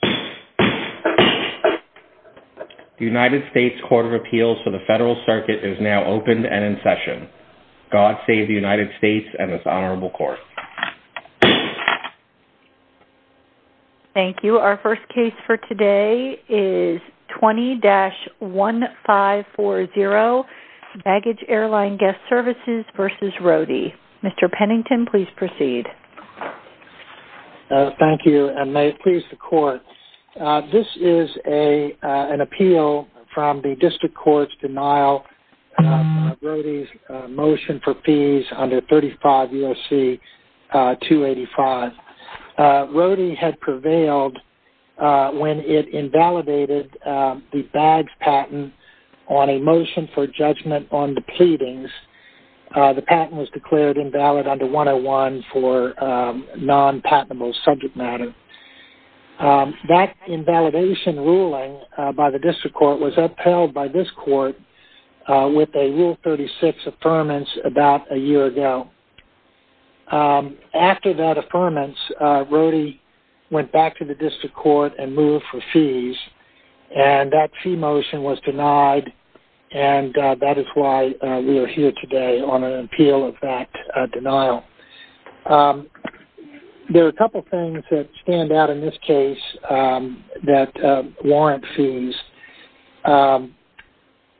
The United States Court of Appeals for the Federal Circuit is now open and in session. God save the United States and this Honorable Court. Thank you. Our first case for today is 20-1540 Baggage Airline Guest Services v. Roadie. Mr. Pennington, please proceed. Thank you and may it please the Court. This is an appeal from the District Court's denial of Roadie's motion for fees under 35 U.S.C. 285. Roadie had prevailed when it invalidated the bags patent on a motion for judgment on the pleadings. The patent was declared invalid under 101 for non-patentable subject matter. That invalidation ruling by the District Court was upheld by this Court with a Rule 36 Affirmance about a year ago. After that Affirmance, Roadie went back to the District Court and moved for fees. That fee motion was denied and that is why we are here today on an appeal of that denial. There are a couple of things that stand out in this case that warrant fees.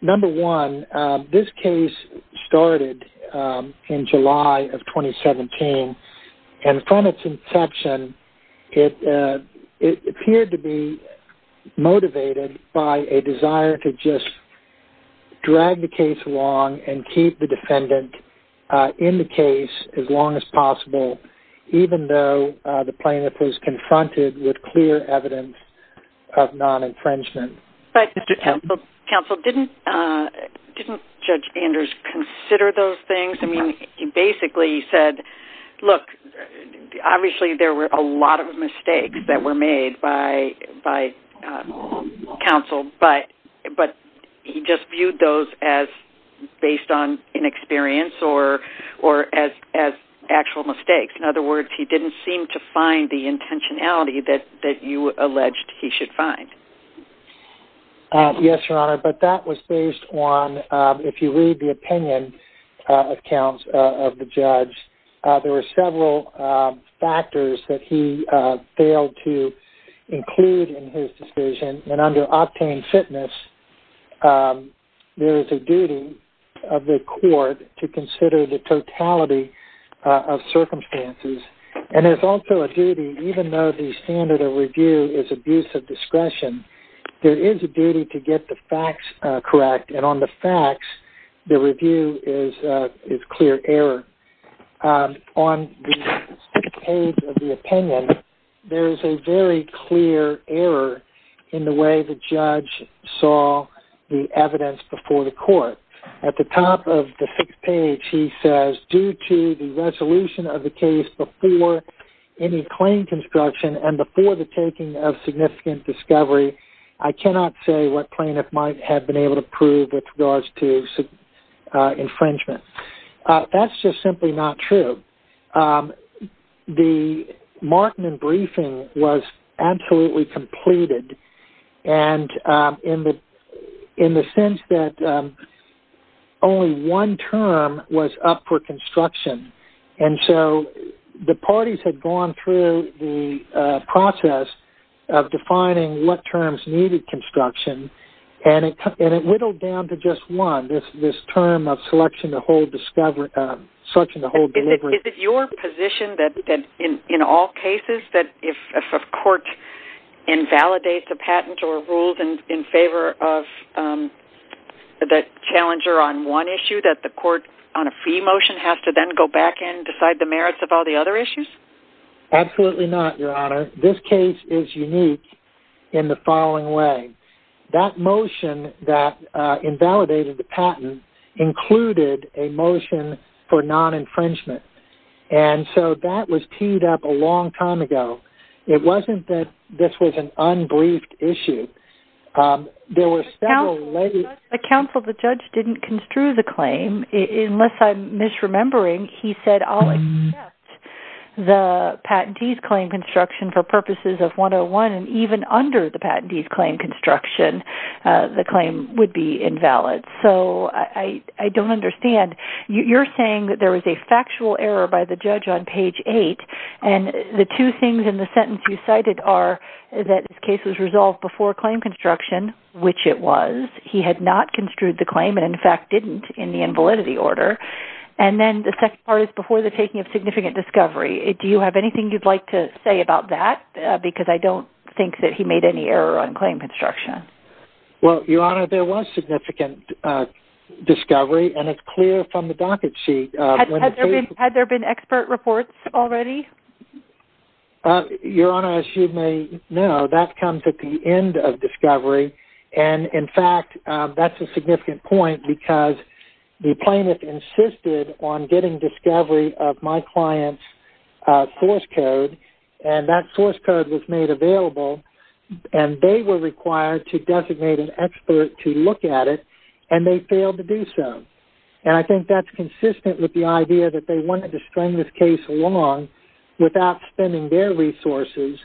Number one, this case started in July of 2017 and from its inception, it appeared to be motivated by a desire to just drag the case along and keep the defendant in the case as long as possible, even though the plaintiff was confronted with clear evidence of non-infringement. But Counsel, didn't Judge Anders consider those things? I mean, he basically said, look, obviously there were a lot of mistakes that were made by Counsel, but he just viewed those as based on inexperience or as actual mistakes. In other words, he didn't seem to find the intentionality that you alleged he should find. Yes, Your Honor, but that was based on, if you read the opinion accounts of the judge, there were several factors that he failed to include in his decision. And under Optane Fitness, there is a duty of the court to consider the totality of circumstances. And there's also a duty, even though the standard of review is abuse of discretion, there is a duty to get the facts correct. And on the facts, the review is clear error. On the page of the opinion, there is a very clear error in the way the judge saw the evidence before the court. At the top of the sixth page, he says, due to the resolution of the case before any claim construction and before the taking of significant discovery, I cannot say what plaintiff might have been able to prove with regards to infringement. That's just simply not true. The Markman briefing was absolutely completed in the sense that only one term was up for construction. And so the parties had gone through the process of defining what terms needed construction, and it whittled down to just one, this term of selection to hold discovery. Is it your position that in all cases that if a court invalidates a patent or rules in favor of the challenger on one issue, that the court on a fee motion has to then go back and decide the merits of all the other issues? Absolutely not, Your Honor. This case is unique in the following way. That motion that invalidated the patent included a motion for non-infringement. And so that was teed up a long time ago. It wasn't that this was an unbriefed issue. The counsel of the judge didn't construe the claim, unless I'm misremembering. He said, I'll accept the patentee's claim construction for purposes of 101, and even under the patentee's claim construction, the claim would be invalid. So I don't understand. You're saying that there was a factual error by the judge on page 8, and the two things in the sentence you cited are that this case was resolved before claim construction, which it was. He had not construed the claim and, in fact, didn't in the invalidity order. And then the second part is before the taking of significant discovery. Do you have anything you'd like to say about that? Because I don't think that he made any error on claim construction. Well, Your Honor, there was significant discovery, and it's clear from the docket sheet. Had there been expert reports already? Your Honor, as you may know, that comes at the end of discovery. And, in fact, that's a significant point because the plaintiff insisted on getting discovery of my client's source code, and that source code was made available, and they were required to designate an expert to look at it, and they failed to do so. And I think that's consistent with the idea that they wanted to string this case along without spending their resources,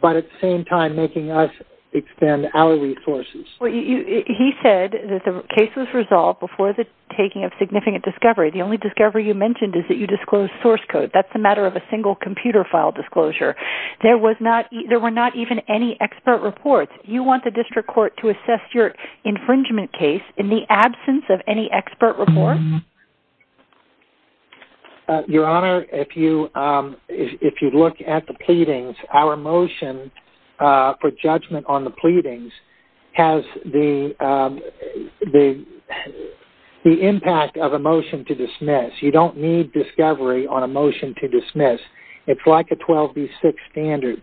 but at the same time making us expend our resources. Well, he said that the case was resolved before the taking of significant discovery. The only discovery you mentioned is that you disclosed source code. That's a matter of a single computer file disclosure. There were not even any expert reports. Do you want the district court to assess your infringement case in the absence of any expert report? Your Honor, if you look at the pleadings, our motion for judgment on the pleadings has the impact of a motion to dismiss. You don't need discovery on a motion to dismiss. It's like a 12B6 standard.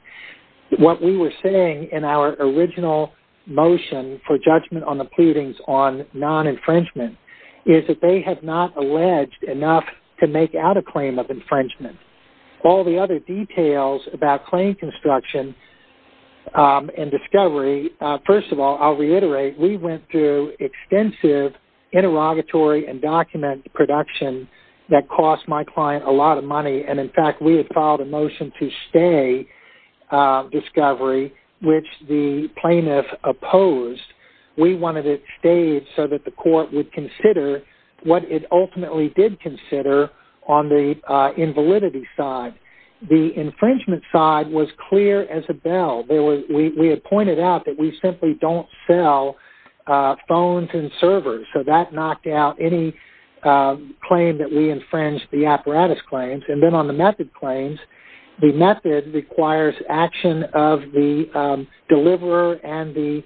What we were saying in our original motion for judgment on the pleadings on non-infringement is that they have not alleged enough to make out a claim of infringement. All the other details about claim construction and discovery, first of all, I'll reiterate, we went through extensive interrogatory and document production that cost my client a lot of money, and, in fact, we had filed a motion to stay discovery, which the plaintiff opposed. We wanted it stayed so that the court would consider what it ultimately did consider on the invalidity side. The infringement side was clear as a bell. We had pointed out that we simply don't sell phones and servers, so that knocked out any claim that we infringed the apparatus claims. And then on the method claims, the method requires action of the deliverer and the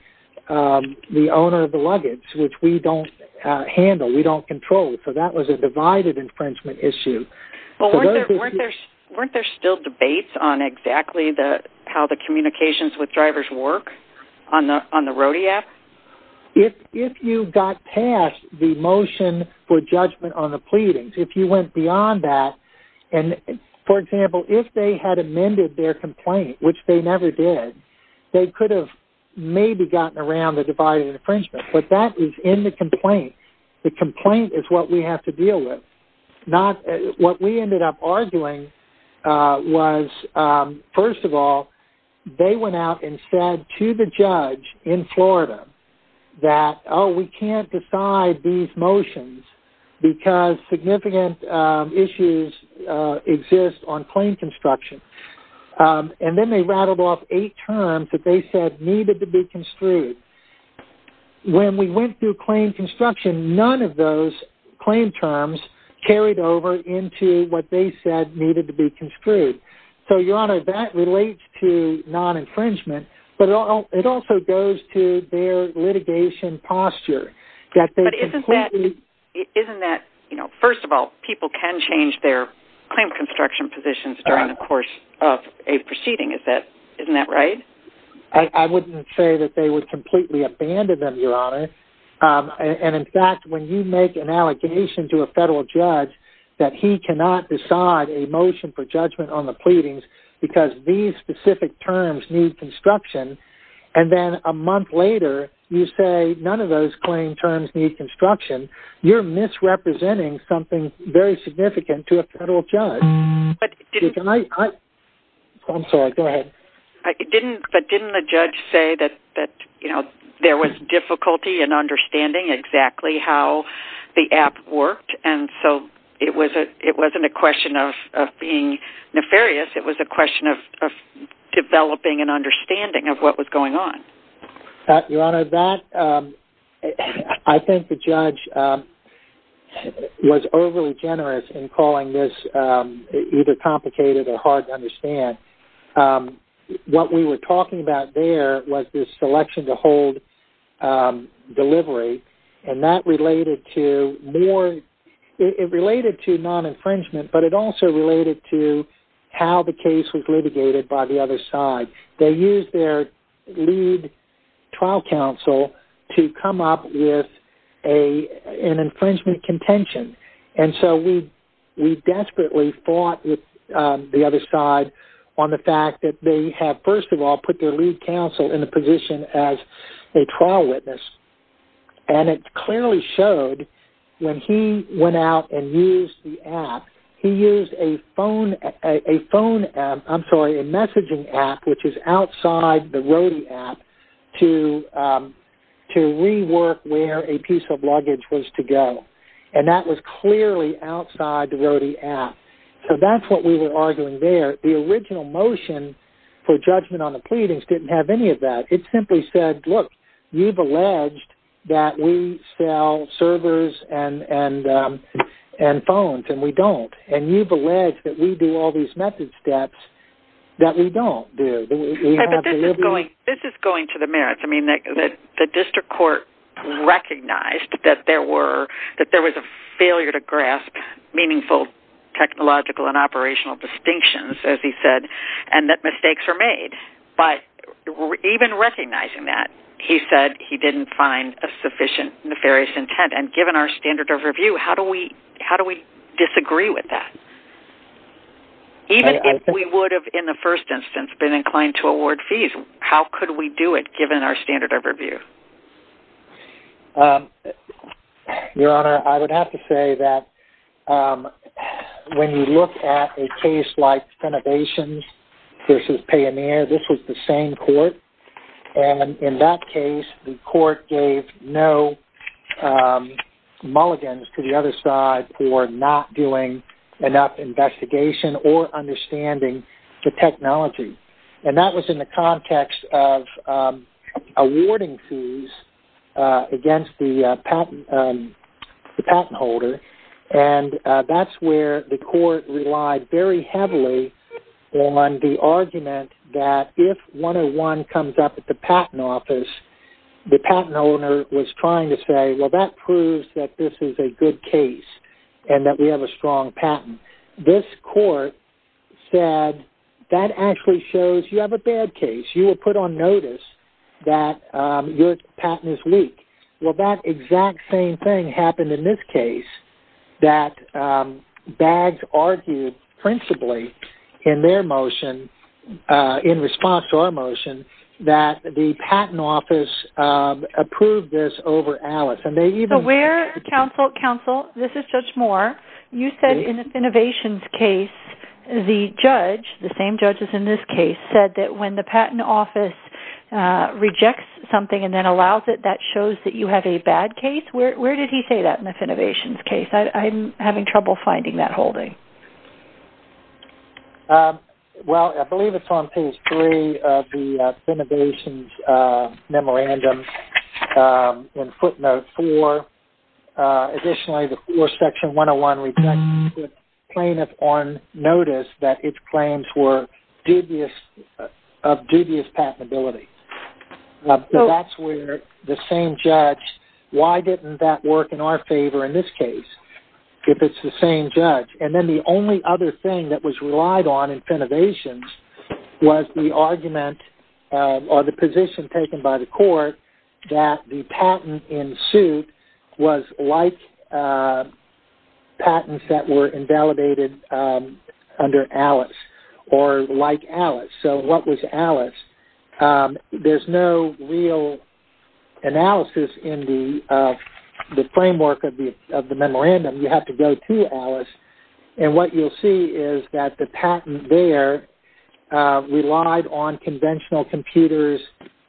owner of the luggage, which we don't handle. We don't control. So that was a divided infringement issue. Weren't there still debates on exactly how the communications with drivers work on the RODI app? If you got past the motion for judgment on the pleadings, if you went beyond that, and, for example, if they had amended their complaint, which they never did, they could have maybe gotten around the divided infringement. But that is in the complaint. The complaint is what we have to deal with. What we ended up arguing was, first of all, they went out and said to the judge in Florida that, oh, we can't decide these motions because significant issues exist on claim construction. And then they rattled off eight terms that they said needed to be construed. When we went through claim construction, none of those claim terms carried over into what they said needed to be construed. So, Your Honor, that relates to non-infringement, but it also goes to their litigation posture. But isn't that, you know, first of all, people can change their claim construction positions during the course of a proceeding. Isn't that right? I wouldn't say that they would completely abandon them, Your Honor. And, in fact, when you make an allegation to a federal judge that he cannot decide a motion for judgment on the pleadings because these specific terms need construction, and then a month later you say none of those claim terms need construction, you're misrepresenting something very significant to a federal judge. I'm sorry. Go ahead. But didn't the judge say that, you know, there was difficulty in understanding exactly how the app worked, and so it wasn't a question of being nefarious. It was a question of developing an understanding of what was going on. Your Honor, I think the judge was overly generous in calling this either complicated or hard to understand. What we were talking about there was this selection to hold delivery, and that related to more-it related to non-infringement, but it also related to how the case was litigated by the other side. They used their lead trial counsel to come up with an infringement contention, and so we desperately fought with the other side on the fact that they have, first of all, put their lead counsel in the position as a trial witness, and it clearly showed when he went out and used the app, he used a phone-I'm sorry, a messaging app which is outside the Rody app to rework where a piece of luggage was to go, and that was clearly outside the Rody app. So that's what we were arguing there. The original motion for judgment on the pleadings didn't have any of that. It simply said, look, you've alleged that we sell servers and phones, and we don't, and you've alleged that we do all these method steps that we don't do. This is going to the merits. I mean, the district court recognized that there was a failure to grasp meaningful technological and operational distinctions, as he said, and that mistakes were made. But even recognizing that, he said he didn't find a sufficient nefarious intent, and given our standard of review, how do we disagree with that? Even if we would have, in the first instance, been inclined to award fees, how could we do it given our standard of review? Your Honor, I would have to say that when you look at a case like Senebations v. Payoneer, this was the same court, and in that case the court gave no mulligans to the other side for not doing enough investigation or understanding the technology. And that was in the context of awarding fees against the patent holder, and that's where the court relied very heavily on the argument that if one-on-one comes up at the patent office, the patent owner was trying to say, well, that proves that this is a good case and that we have a strong patent. This court said that actually shows you have a bad case. You will put on notice that your patent is weak. Well, that exact same thing happened in this case, that BAGS argued principally in their motion, in response to our motion, that the patent office approved this over Alice. Counsel, this is Judge Moore. You said in the Senebations case the judge, the same judge as in this case, said that when the patent office rejects something and then allows it, that shows that you have a bad case. Where did he say that in the Senebations case? I'm having trouble finding that holding. Well, I believe it's on page three of the Senebations memorandum, in footnote four. Additionally, section 101 rejects the plaintiff on notice that its claims were of dubious patentability. That's where the same judge, why didn't that work in our favor in this case, if it's the same judge? Then the only other thing that was relied on in Senebations was the argument or the position taken by the court that the patent in suit was like patents that were invalidated under Alice, or like Alice. What was Alice? There's no real analysis in the framework of the memorandum. You have to go to Alice. What you'll see is that the patent there relied on conventional computers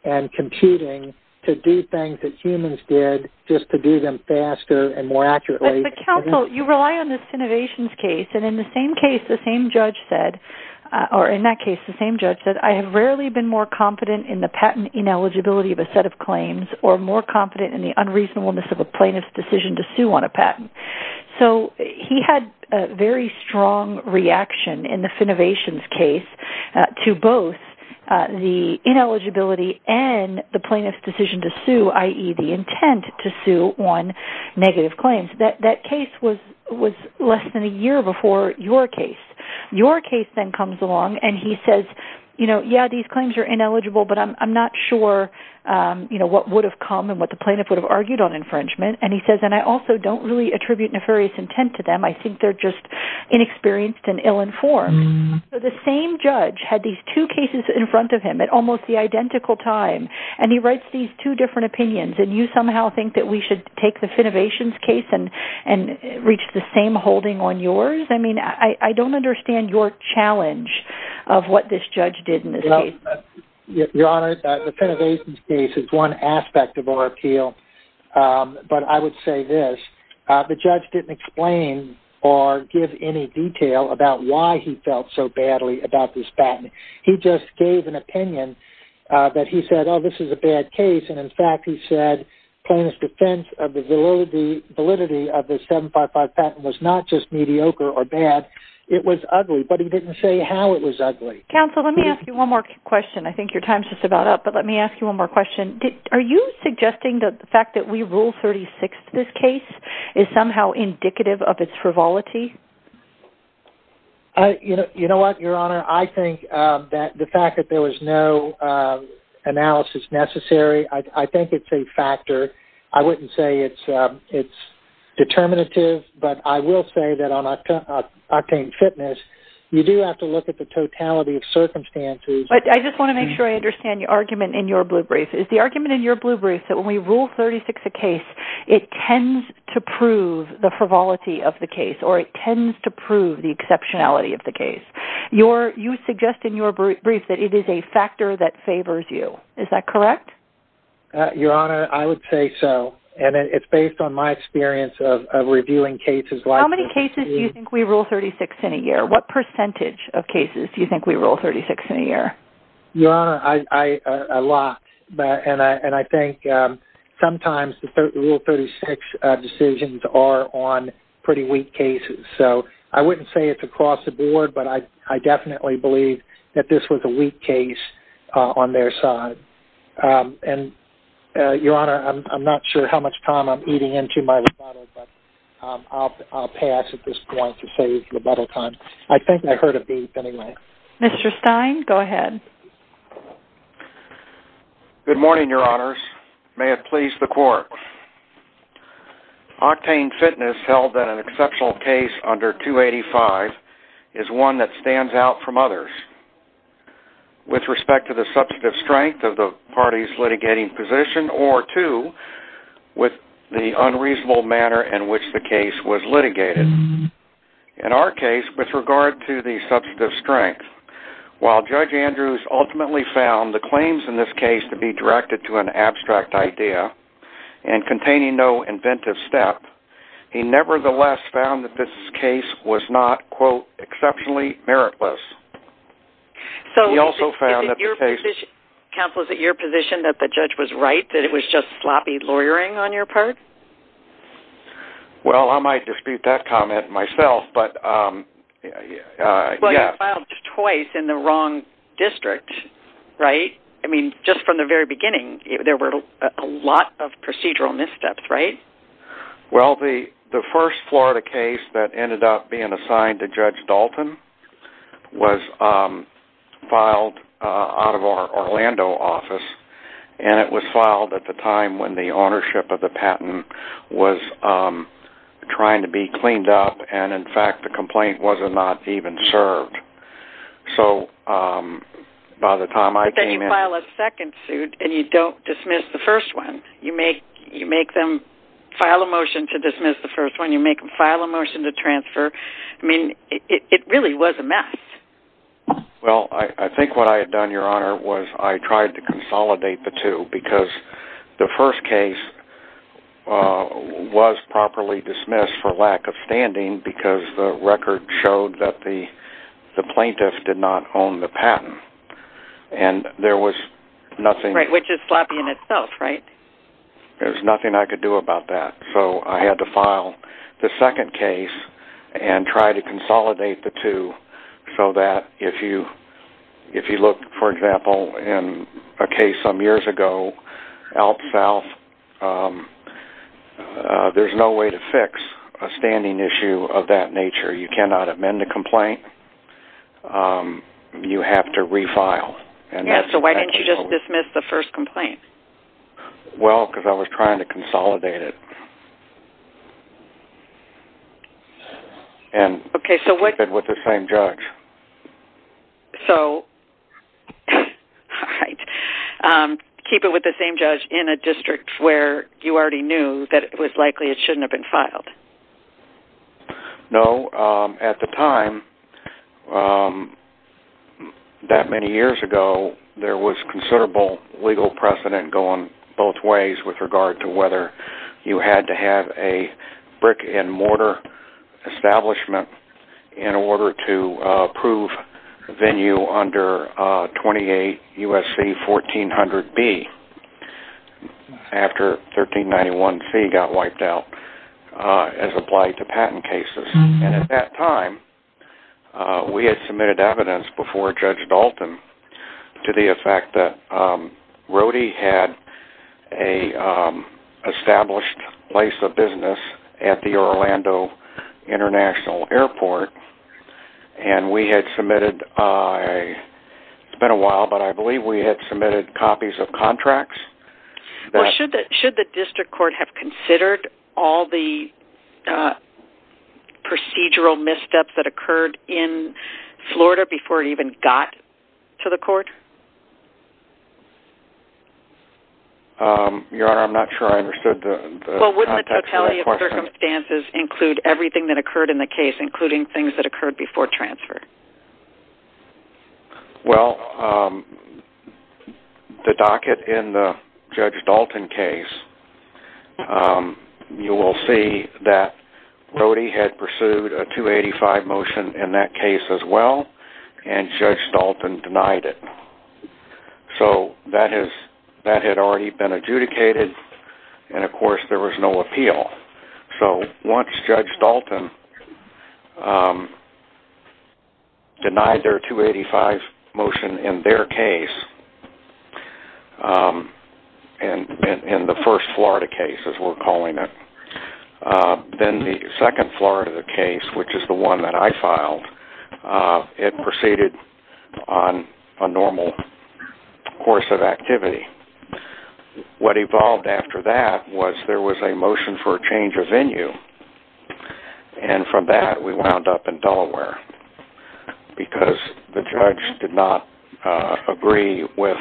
and computing to do things that humans did just to do them faster and more accurately. But counsel, you rely on the Senebations case. In the same case, the same judge said, or in that case, the same judge said, I have rarely been more confident in the patent ineligibility of a set of claims or more confident in the unreasonableness of a plaintiff's decision to sue on a patent. He had a very strong reaction in the Senebations case to both the ineligibility and the plaintiff's decision to sue, i.e., the intent to sue on negative claims. That case was less than a year before your case. Your case then comes along, and he says, yeah, these claims are ineligible, but I'm not sure what would have come and what the plaintiff would have argued on infringement. And he says, and I also don't really attribute nefarious intent to them. I think they're just inexperienced and ill-informed. The same judge had these two cases in front of him at almost the identical time, and he writes these two different opinions, and you somehow think that we should take the Senebations case and reach the same holding on yours? I mean, I don't understand your challenge of what this judge did in this case. Your Honor, the Senebations case is one aspect of our appeal, but I would say this. The judge didn't explain or give any detail about why he felt so badly about this patent. He just gave an opinion that he said, oh, this is a bad case, and, in fact, he said plaintiff's defense of the validity of the 755 patent was not just mediocre or bad. It was ugly, but he didn't say how it was ugly. Counsel, let me ask you one more question. I think your time is just about up, but let me ask you one more question. Are you suggesting that the fact that we ruled 36th this case is somehow indicative of its frivolity? You know what, Your Honor? Your Honor, I think that the fact that there was no analysis necessary, I think it's a factor. I wouldn't say it's determinative, but I will say that on Octane Fitness, you do have to look at the totality of circumstances. But I just want to make sure I understand your argument in your blue brief. Is the argument in your blue brief that when we rule 36th a case, it tends to prove the frivolity of the case or it tends to prove the exceptionality of the case? You suggest in your brief that it is a factor that favors you. Is that correct? Your Honor, I would say so, and it's based on my experience of reviewing cases like this. How many cases do you think we rule 36th in a year? What percentage of cases do you think we rule 36th in a year? Your Honor, a lot. And I think sometimes the Rule 36 decisions are on pretty weak cases. So I wouldn't say it's across the board, but I definitely believe that this was a weak case on their side. And, Your Honor, I'm not sure how much time I'm eating into my rebuttal, but I'll pass at this point to save rebuttal time. I think I heard a beep anyway. Mr. Stein, go ahead. Good morning, Your Honors. May it please the Court. Octane Fitness held that an exceptional case under 285 is one that stands out from others with respect to the substantive strength of the party's litigating position or two, with the unreasonable manner in which the case was litigated. In our case, with regard to the substantive strength, while Judge Andrews ultimately found the claims in this case to be directed to an abstract idea and containing no inventive step, he nevertheless found that this case was not, quote, exceptionally meritless. Counsel, is it your position that the judge was right, that it was just sloppy lawyering on your part? Well, I might dispute that comment myself, but yes. Well, you filed twice in the wrong district, right? I mean, just from the very beginning, there were a lot of procedural missteps, right? Well, the first Florida case that ended up being assigned to Judge Dalton was filed out of our Orlando office, and it was filed at the time when the ownership of the patent was trying to be cleaned up and, in fact, the complaint was not even served. But then you file a second suit and you don't dismiss the first one. You make them file a motion to dismiss the first one. You make them file a motion to transfer. I mean, it really was a mess. Well, I think what I had done, Your Honor, was I tried to consolidate the two because the first case was properly dismissed for lack of standing because the record showed that the plaintiff did not own the patent, and there was nothing... Right, which is sloppy in itself, right? There was nothing I could do about that. So I had to file the second case and try to consolidate the two so that if you look, for example, in a case some years ago, out south, there's no way to fix a standing issue of that nature. You cannot amend a complaint. You have to refile. Yeah, so why didn't you just dismiss the first complaint? Well, because I was trying to consolidate it. Okay, so what... And keep it with the same judge. So, all right, keep it with the same judge in a district where you already knew that it was likely it shouldn't have been filed. No, at the time, that many years ago, there was considerable legal precedent going both ways with regard to whether you had to have a brick-and-mortar establishment in order to approve venue under 28 U.S.C. 1400B after 1391C got wiped out. As applied to patent cases. And at that time, we had submitted evidence before Judge Dalton to the effect that Rhodey had an established place of business at the Orlando International Airport. And we had submitted, it's been a while, but I believe we had submitted copies of contracts. Well, should the district court have considered all the procedural missteps that occurred in Florida before it even got to the court? Your Honor, I'm not sure I understood the context of that question. Well, wouldn't the totality of circumstances include everything that occurred in the case, including things that occurred before transfer? Well, the docket in the Judge Dalton case, you will see that Rhodey had pursued a 285 motion in that case as well, and Judge Dalton denied it. So that had already been adjudicated, and of course there was no appeal. So once Judge Dalton denied their 285 motion in their case, in the first Florida case, as we're calling it, then the second Florida case, which is the one that I filed, it proceeded on a normal course of activity. What evolved after that was there was a motion for a change of venue, and from that we wound up in Delaware, because the judge did not agree with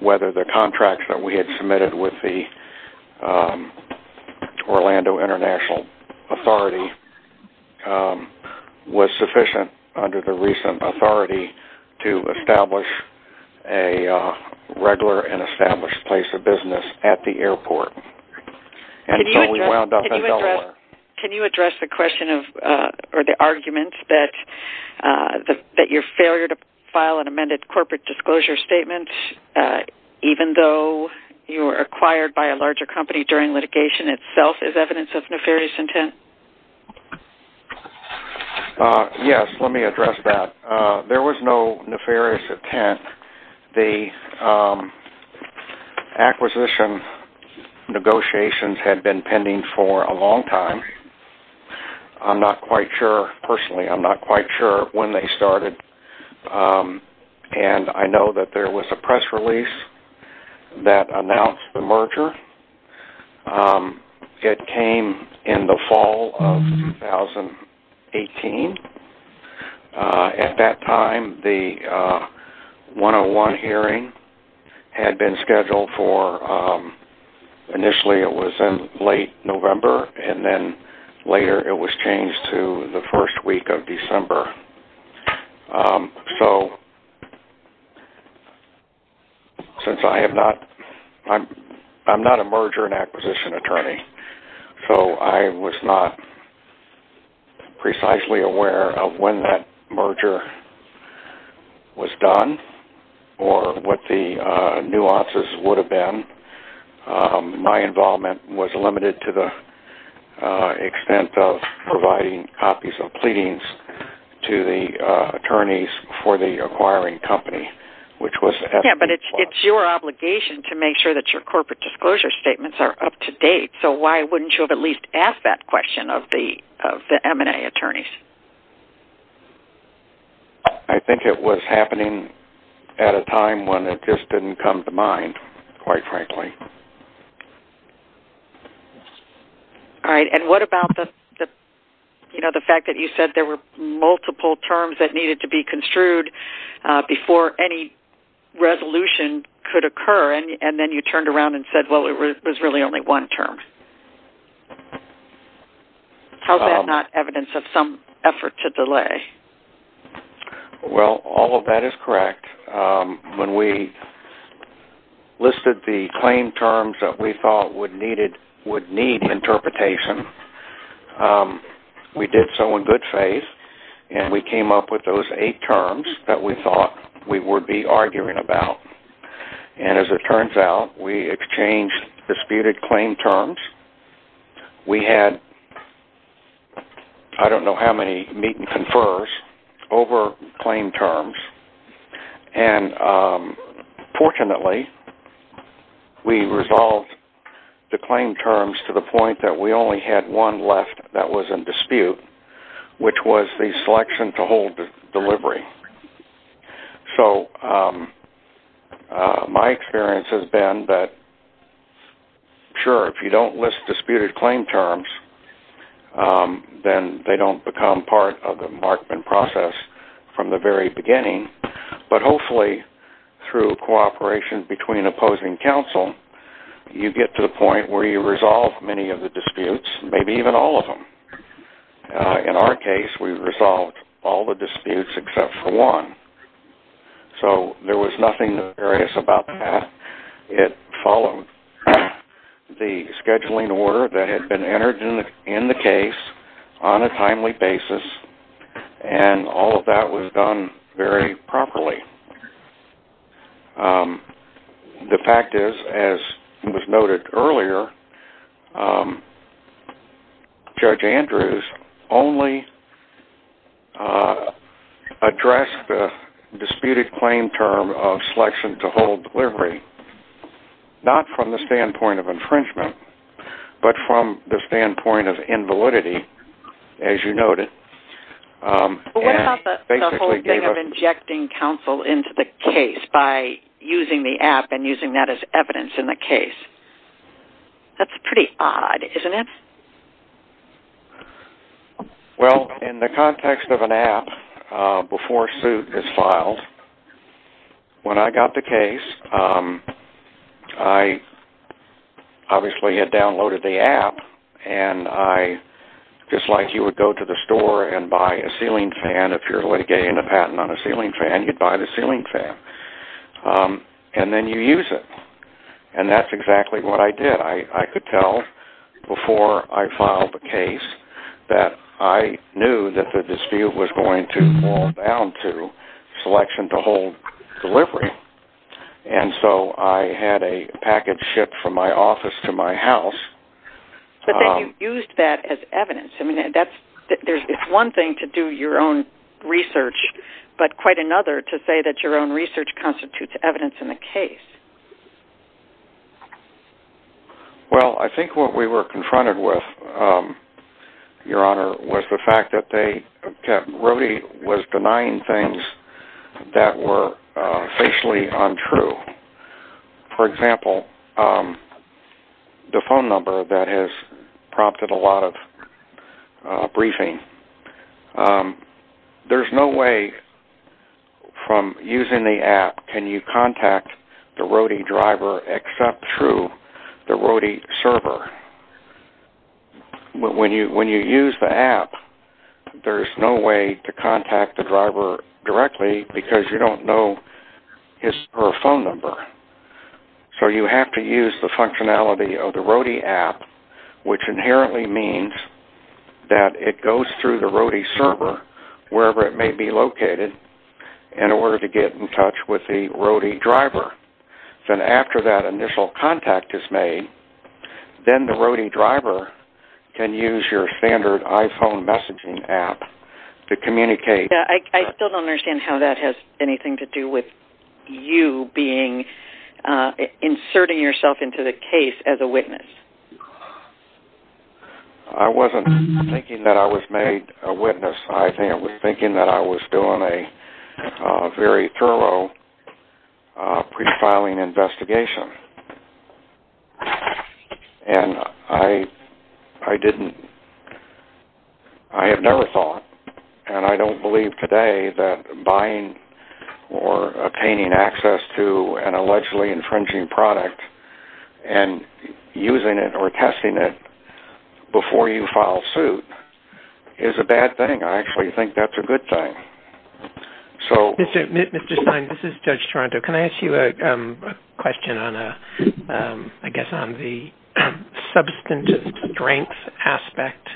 whether the contract that we had submitted with the Orlando International Authority was sufficient under the recent authority to establish a regular and established place of business at the airport. And so we wound up in Delaware. Can you address the question or the argument that your failure to file an amended corporate disclosure statement, even though you were acquired by a larger company during litigation itself, is evidence of nefarious intent? Yes, let me address that. There was no nefarious intent. The acquisition negotiations had been pending for a long time. I'm not quite sure, personally, I'm not quite sure when they started. And I know that there was a press release that announced the merger. It came in the fall of 2018. At that time, the one-on-one hearing had been scheduled for, initially it was in late November, and then later it was changed to the first week of December. So since I'm not a merger and acquisition attorney, so I was not precisely aware of when that merger was done or what the nuances would have been. My involvement was limited to the extent of providing copies of pleadings to the attorneys for the acquiring company. Yeah, but it's your obligation to make sure that your corporate disclosure statements are up to date. So why wouldn't you have at least asked that question of the M&A attorneys? I think it was happening at a time when it just didn't come to mind, quite frankly. All right. And what about the fact that you said there were multiple terms that needed to be construed before any resolution could occur, and then you turned around and said, well, it was really only one term? How is that not evidence of some effort to delay? Well, all of that is correct. When we listed the claim terms that we thought would need interpretation, we did so in good faith, and we came up with those eight terms that we thought we would be arguing about. And as it turns out, we exchanged disputed claim terms. We had I don't know how many meet and confers over claim terms, and fortunately, we resolved the claim terms to the point that we only had one left that was in dispute, which was the selection to hold the delivery. So my experience has been that, sure, if you don't list disputed claim terms, then they don't become part of the markman process from the very beginning, but hopefully through cooperation between opposing counsel, you get to the point where you resolve many of the disputes, maybe even all of them. In our case, we resolved all the disputes except for one. So there was nothing nefarious about that. It followed the scheduling order that had been entered in the case on a timely basis, and all of that was done very properly. The fact is, as was noted earlier, Judge Andrews only addressed the disputed claim term of selection to hold delivery, not from the standpoint of infringement, but from the standpoint of invalidity, as you noted. What about the whole thing of injecting counsel into the case by using the app and using that as evidence in the case? That's pretty odd, isn't it? Well, in the context of an app, before suit is filed, when I got the case, I obviously had downloaded the app, and just like you would go to the store and buy a ceiling fan, if you're getting a patent on a ceiling fan, you'd buy the ceiling fan, and then you use it. And that's exactly what I did. I could tell before I filed the case that I knew that the dispute was going to fall down to selection to hold delivery. And so I had a package shipped from my office to my house. But then you used that as evidence. I mean, it's one thing to do your own research, but quite another to say that your own research constitutes evidence in the case. Well, I think what we were confronted with, Your Honor, was the fact that Rody was denying things that were facially untrue. For example, the phone number that has prompted a lot of briefing. There's no way from using the app can you contact the Rody driver except through the Rody server. When you use the app, there's no way to contact the driver directly because you don't know his or her phone number. So you have to use the functionality of the Rody app, which inherently means that it goes through the Rody server, wherever it may be located, in order to get in touch with the Rody driver. Then after that initial contact is made, then the Rody driver can use your standard iPhone messaging app to communicate. I still don't understand how that has anything to do with you being, inserting yourself into the case as a witness. I wasn't thinking that I was made a witness. I was thinking that I was doing a very thorough pre-filing investigation. I have never thought, and I don't believe today, that buying or obtaining access to an allegedly infringing product and using it or testing it before you file suit is a bad thing. I actually think that's a good thing. Mr. Stein, this is Judge Toronto. Can I ask you a question, I guess, on the substantive strength aspect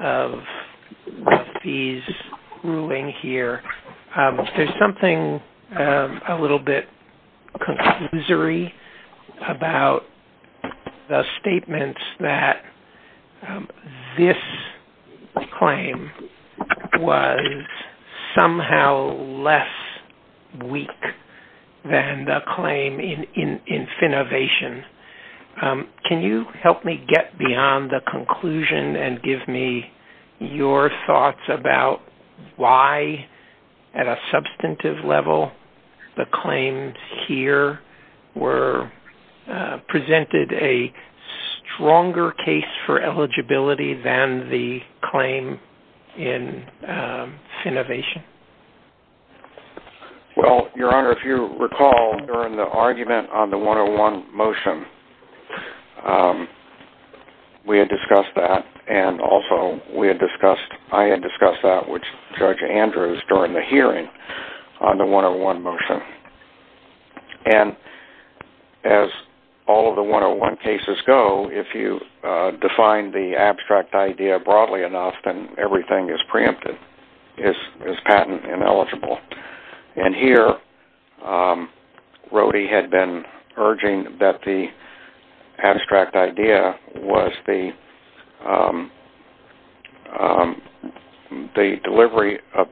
of these ruling here? There's something a little bit conclusory about the statements that this claim was somehow less weak than the claim in Finnovation. Can you help me get beyond the conclusion and give me your thoughts about why, at a substantive level, the claims here presented a stronger case for eligibility than the claim in Finnovation? Well, Your Honor, if you recall, during the argument on the 101 motion, we had discussed that. Also, I had discussed that with Judge Andrews during the hearing on the 101 motion. As all of the 101 cases go, if you define the abstract idea broadly enough, then everything is preempted, is patent ineligible. Here, Rody had been urging that the abstract idea was the delivery of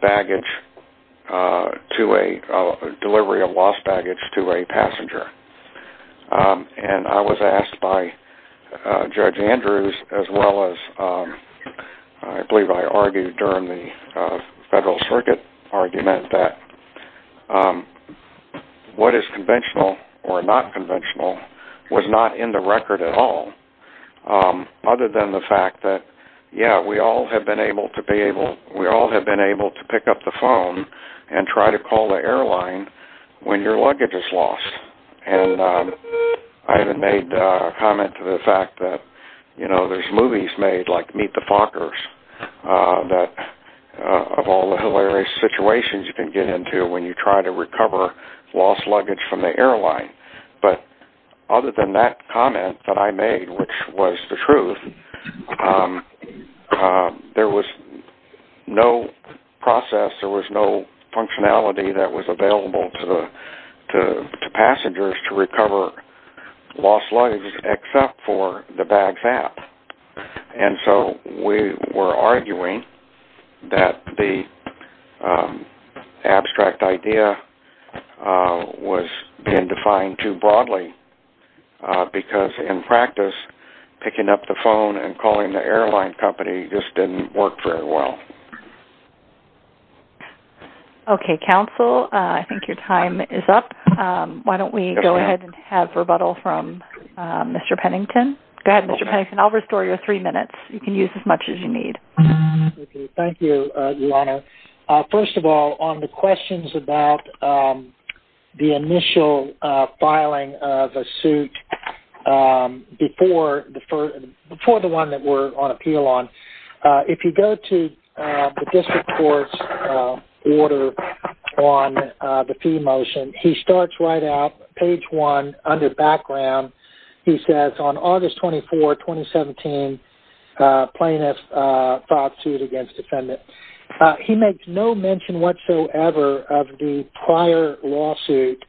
lost baggage to a passenger. I was asked by Judge Andrews, as well as, I believe I argued during the Federal Circuit argument, that what is conventional or not conventional was not in the record at all, other than the fact that, yes, we all have been able to pick up the phone and try to call the airline when your luggage is lost. I even made a comment to the fact that there's movies made, like Meet the Fockers, of all the hilarious situations you can get into when you try to recover lost luggage from the airline. But other than that comment that I made, which was the truth, there was no process, there was no functionality that was available to passengers to recover lost luggage, except for the bags app. And so we were arguing that the abstract idea was being defined too broadly, because in practice, picking up the phone and calling the airline company just didn't work very well. Okay, counsel, I think your time is up. Why don't we go ahead and have rebuttal from Mr. Pennington. Go ahead, Mr. Pennington, I'll restore your three minutes. You can use as much as you need. Thank you, Your Honor. First of all, on the questions about the initial filing of a suit before the one that we're on appeal on, if you go to the district court's order on the fee motion, he starts right out, page one, under background. He says, on August 24, 2017, plaintiff filed suit against defendant. He makes no mention whatsoever of the prior lawsuit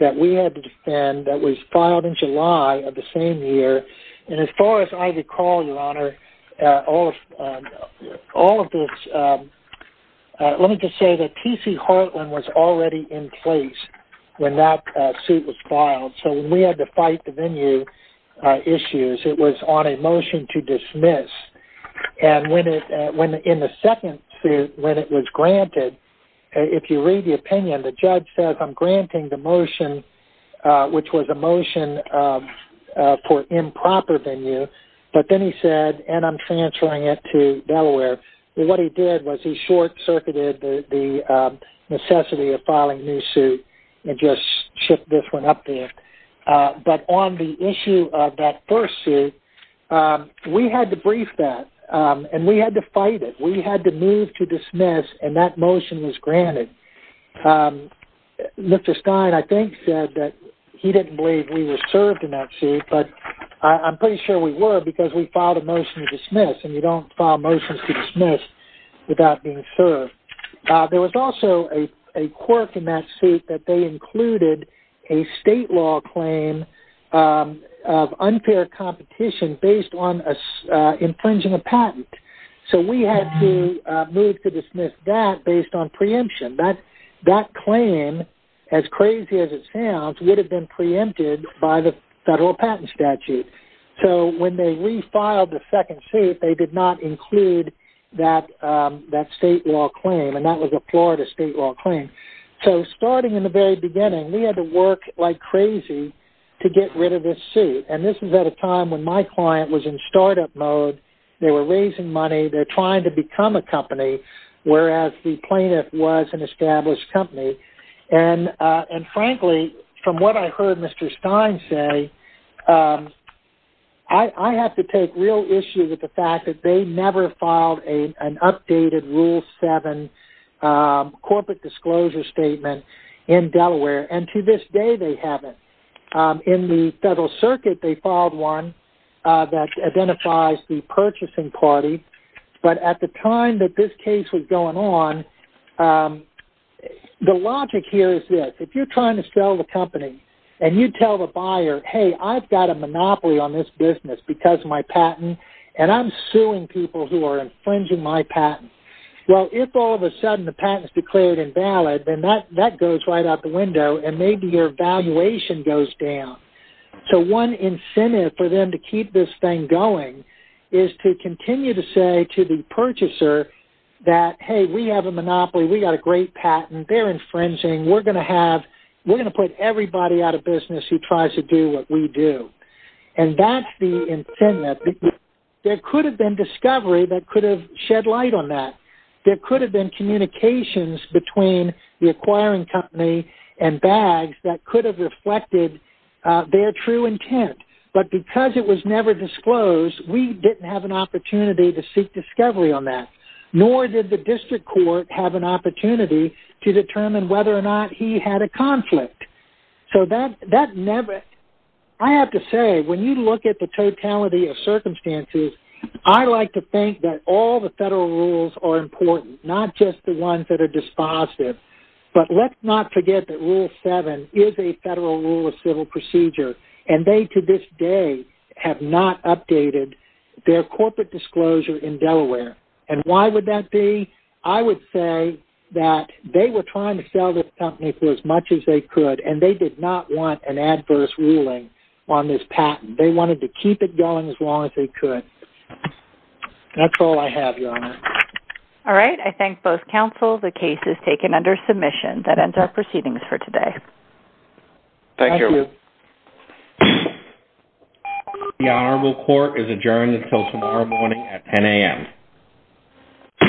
that we had to defend that was filed in July of the same year. And as far as I recall, Your Honor, all of this, let me just say that T.C. Hartland was already in place when that suit was filed. So when we had to fight the venue issues, it was on a motion to dismiss. And in the second suit, when it was granted, if you read the opinion, the judge says, I'm granting the motion, which was a motion for improper venue. But then he said, and I'm transferring it to Delaware. What he did was he short-circuited the necessity of filing new suit and just shipped this one up there. But on the issue of that first suit, we had to brief that, and we had to fight it. We had to move to dismiss, and that motion was granted. Mr. Stein, I think, said that he didn't believe we were served in that suit, but I'm pretty sure we were because we filed a motion to dismiss, and you don't file motions to dismiss without being served. There was also a quirk in that suit that they included a state law claim of unfair competition based on infringing a patent. So we had to move to dismiss that based on preemption. That claim, as crazy as it sounds, would have been preempted by the federal patent statute. So when they refiled the second suit, they did not include that state law claim, and that was a Florida state law claim. So starting in the very beginning, we had to work like crazy to get rid of this suit, and this was at a time when my client was in startup mode. They were raising money. They're trying to become a company, whereas the plaintiff was an established company. And, frankly, from what I heard Mr. Stein say, I have to take real issue with the fact that they never filed an updated Rule 7 corporate disclosure statement in Delaware, and to this day they haven't. In the federal circuit, they filed one that identifies the purchasing party, but at the time that this case was going on, the logic here is this. If you're trying to sell the company and you tell the buyer, hey, I've got a monopoly on this business because of my patent, and I'm suing people who are infringing my patent. Well, if all of a sudden the patent is declared invalid, then that goes right out the window, and maybe your valuation goes down. So one incentive for them to keep this thing going is to continue to say to the purchaser that, hey, we have a monopoly. We've got a great patent. They're infringing. We're going to put everybody out of business who tries to do what we do, and that's the incentive. There could have been discovery that could have shed light on that. There could have been communications between the acquiring company and BAGS that could have reflected their true intent, but because it was never disclosed, we didn't have an opportunity to seek discovery on that, nor did the district court have an opportunity to determine whether or not he had a conflict. So that never – I have to say, when you look at the totality of circumstances, I like to think that all the federal rules are important, not just the ones that are dispositive. But let's not forget that Rule 7 is a federal rule of civil procedure, and they to this day have not updated their corporate disclosure in Delaware. And why would that be? I would say that they were trying to sell this company for as much as they could, and they did not want an adverse ruling on this patent. They wanted to keep it going as long as they could. That's all I have, Your Honor. All right. I thank both counsel. The case is taken under submission. That ends our proceedings for today. Thank you. The Honorable Court is adjourned until tomorrow morning at 10 a.m.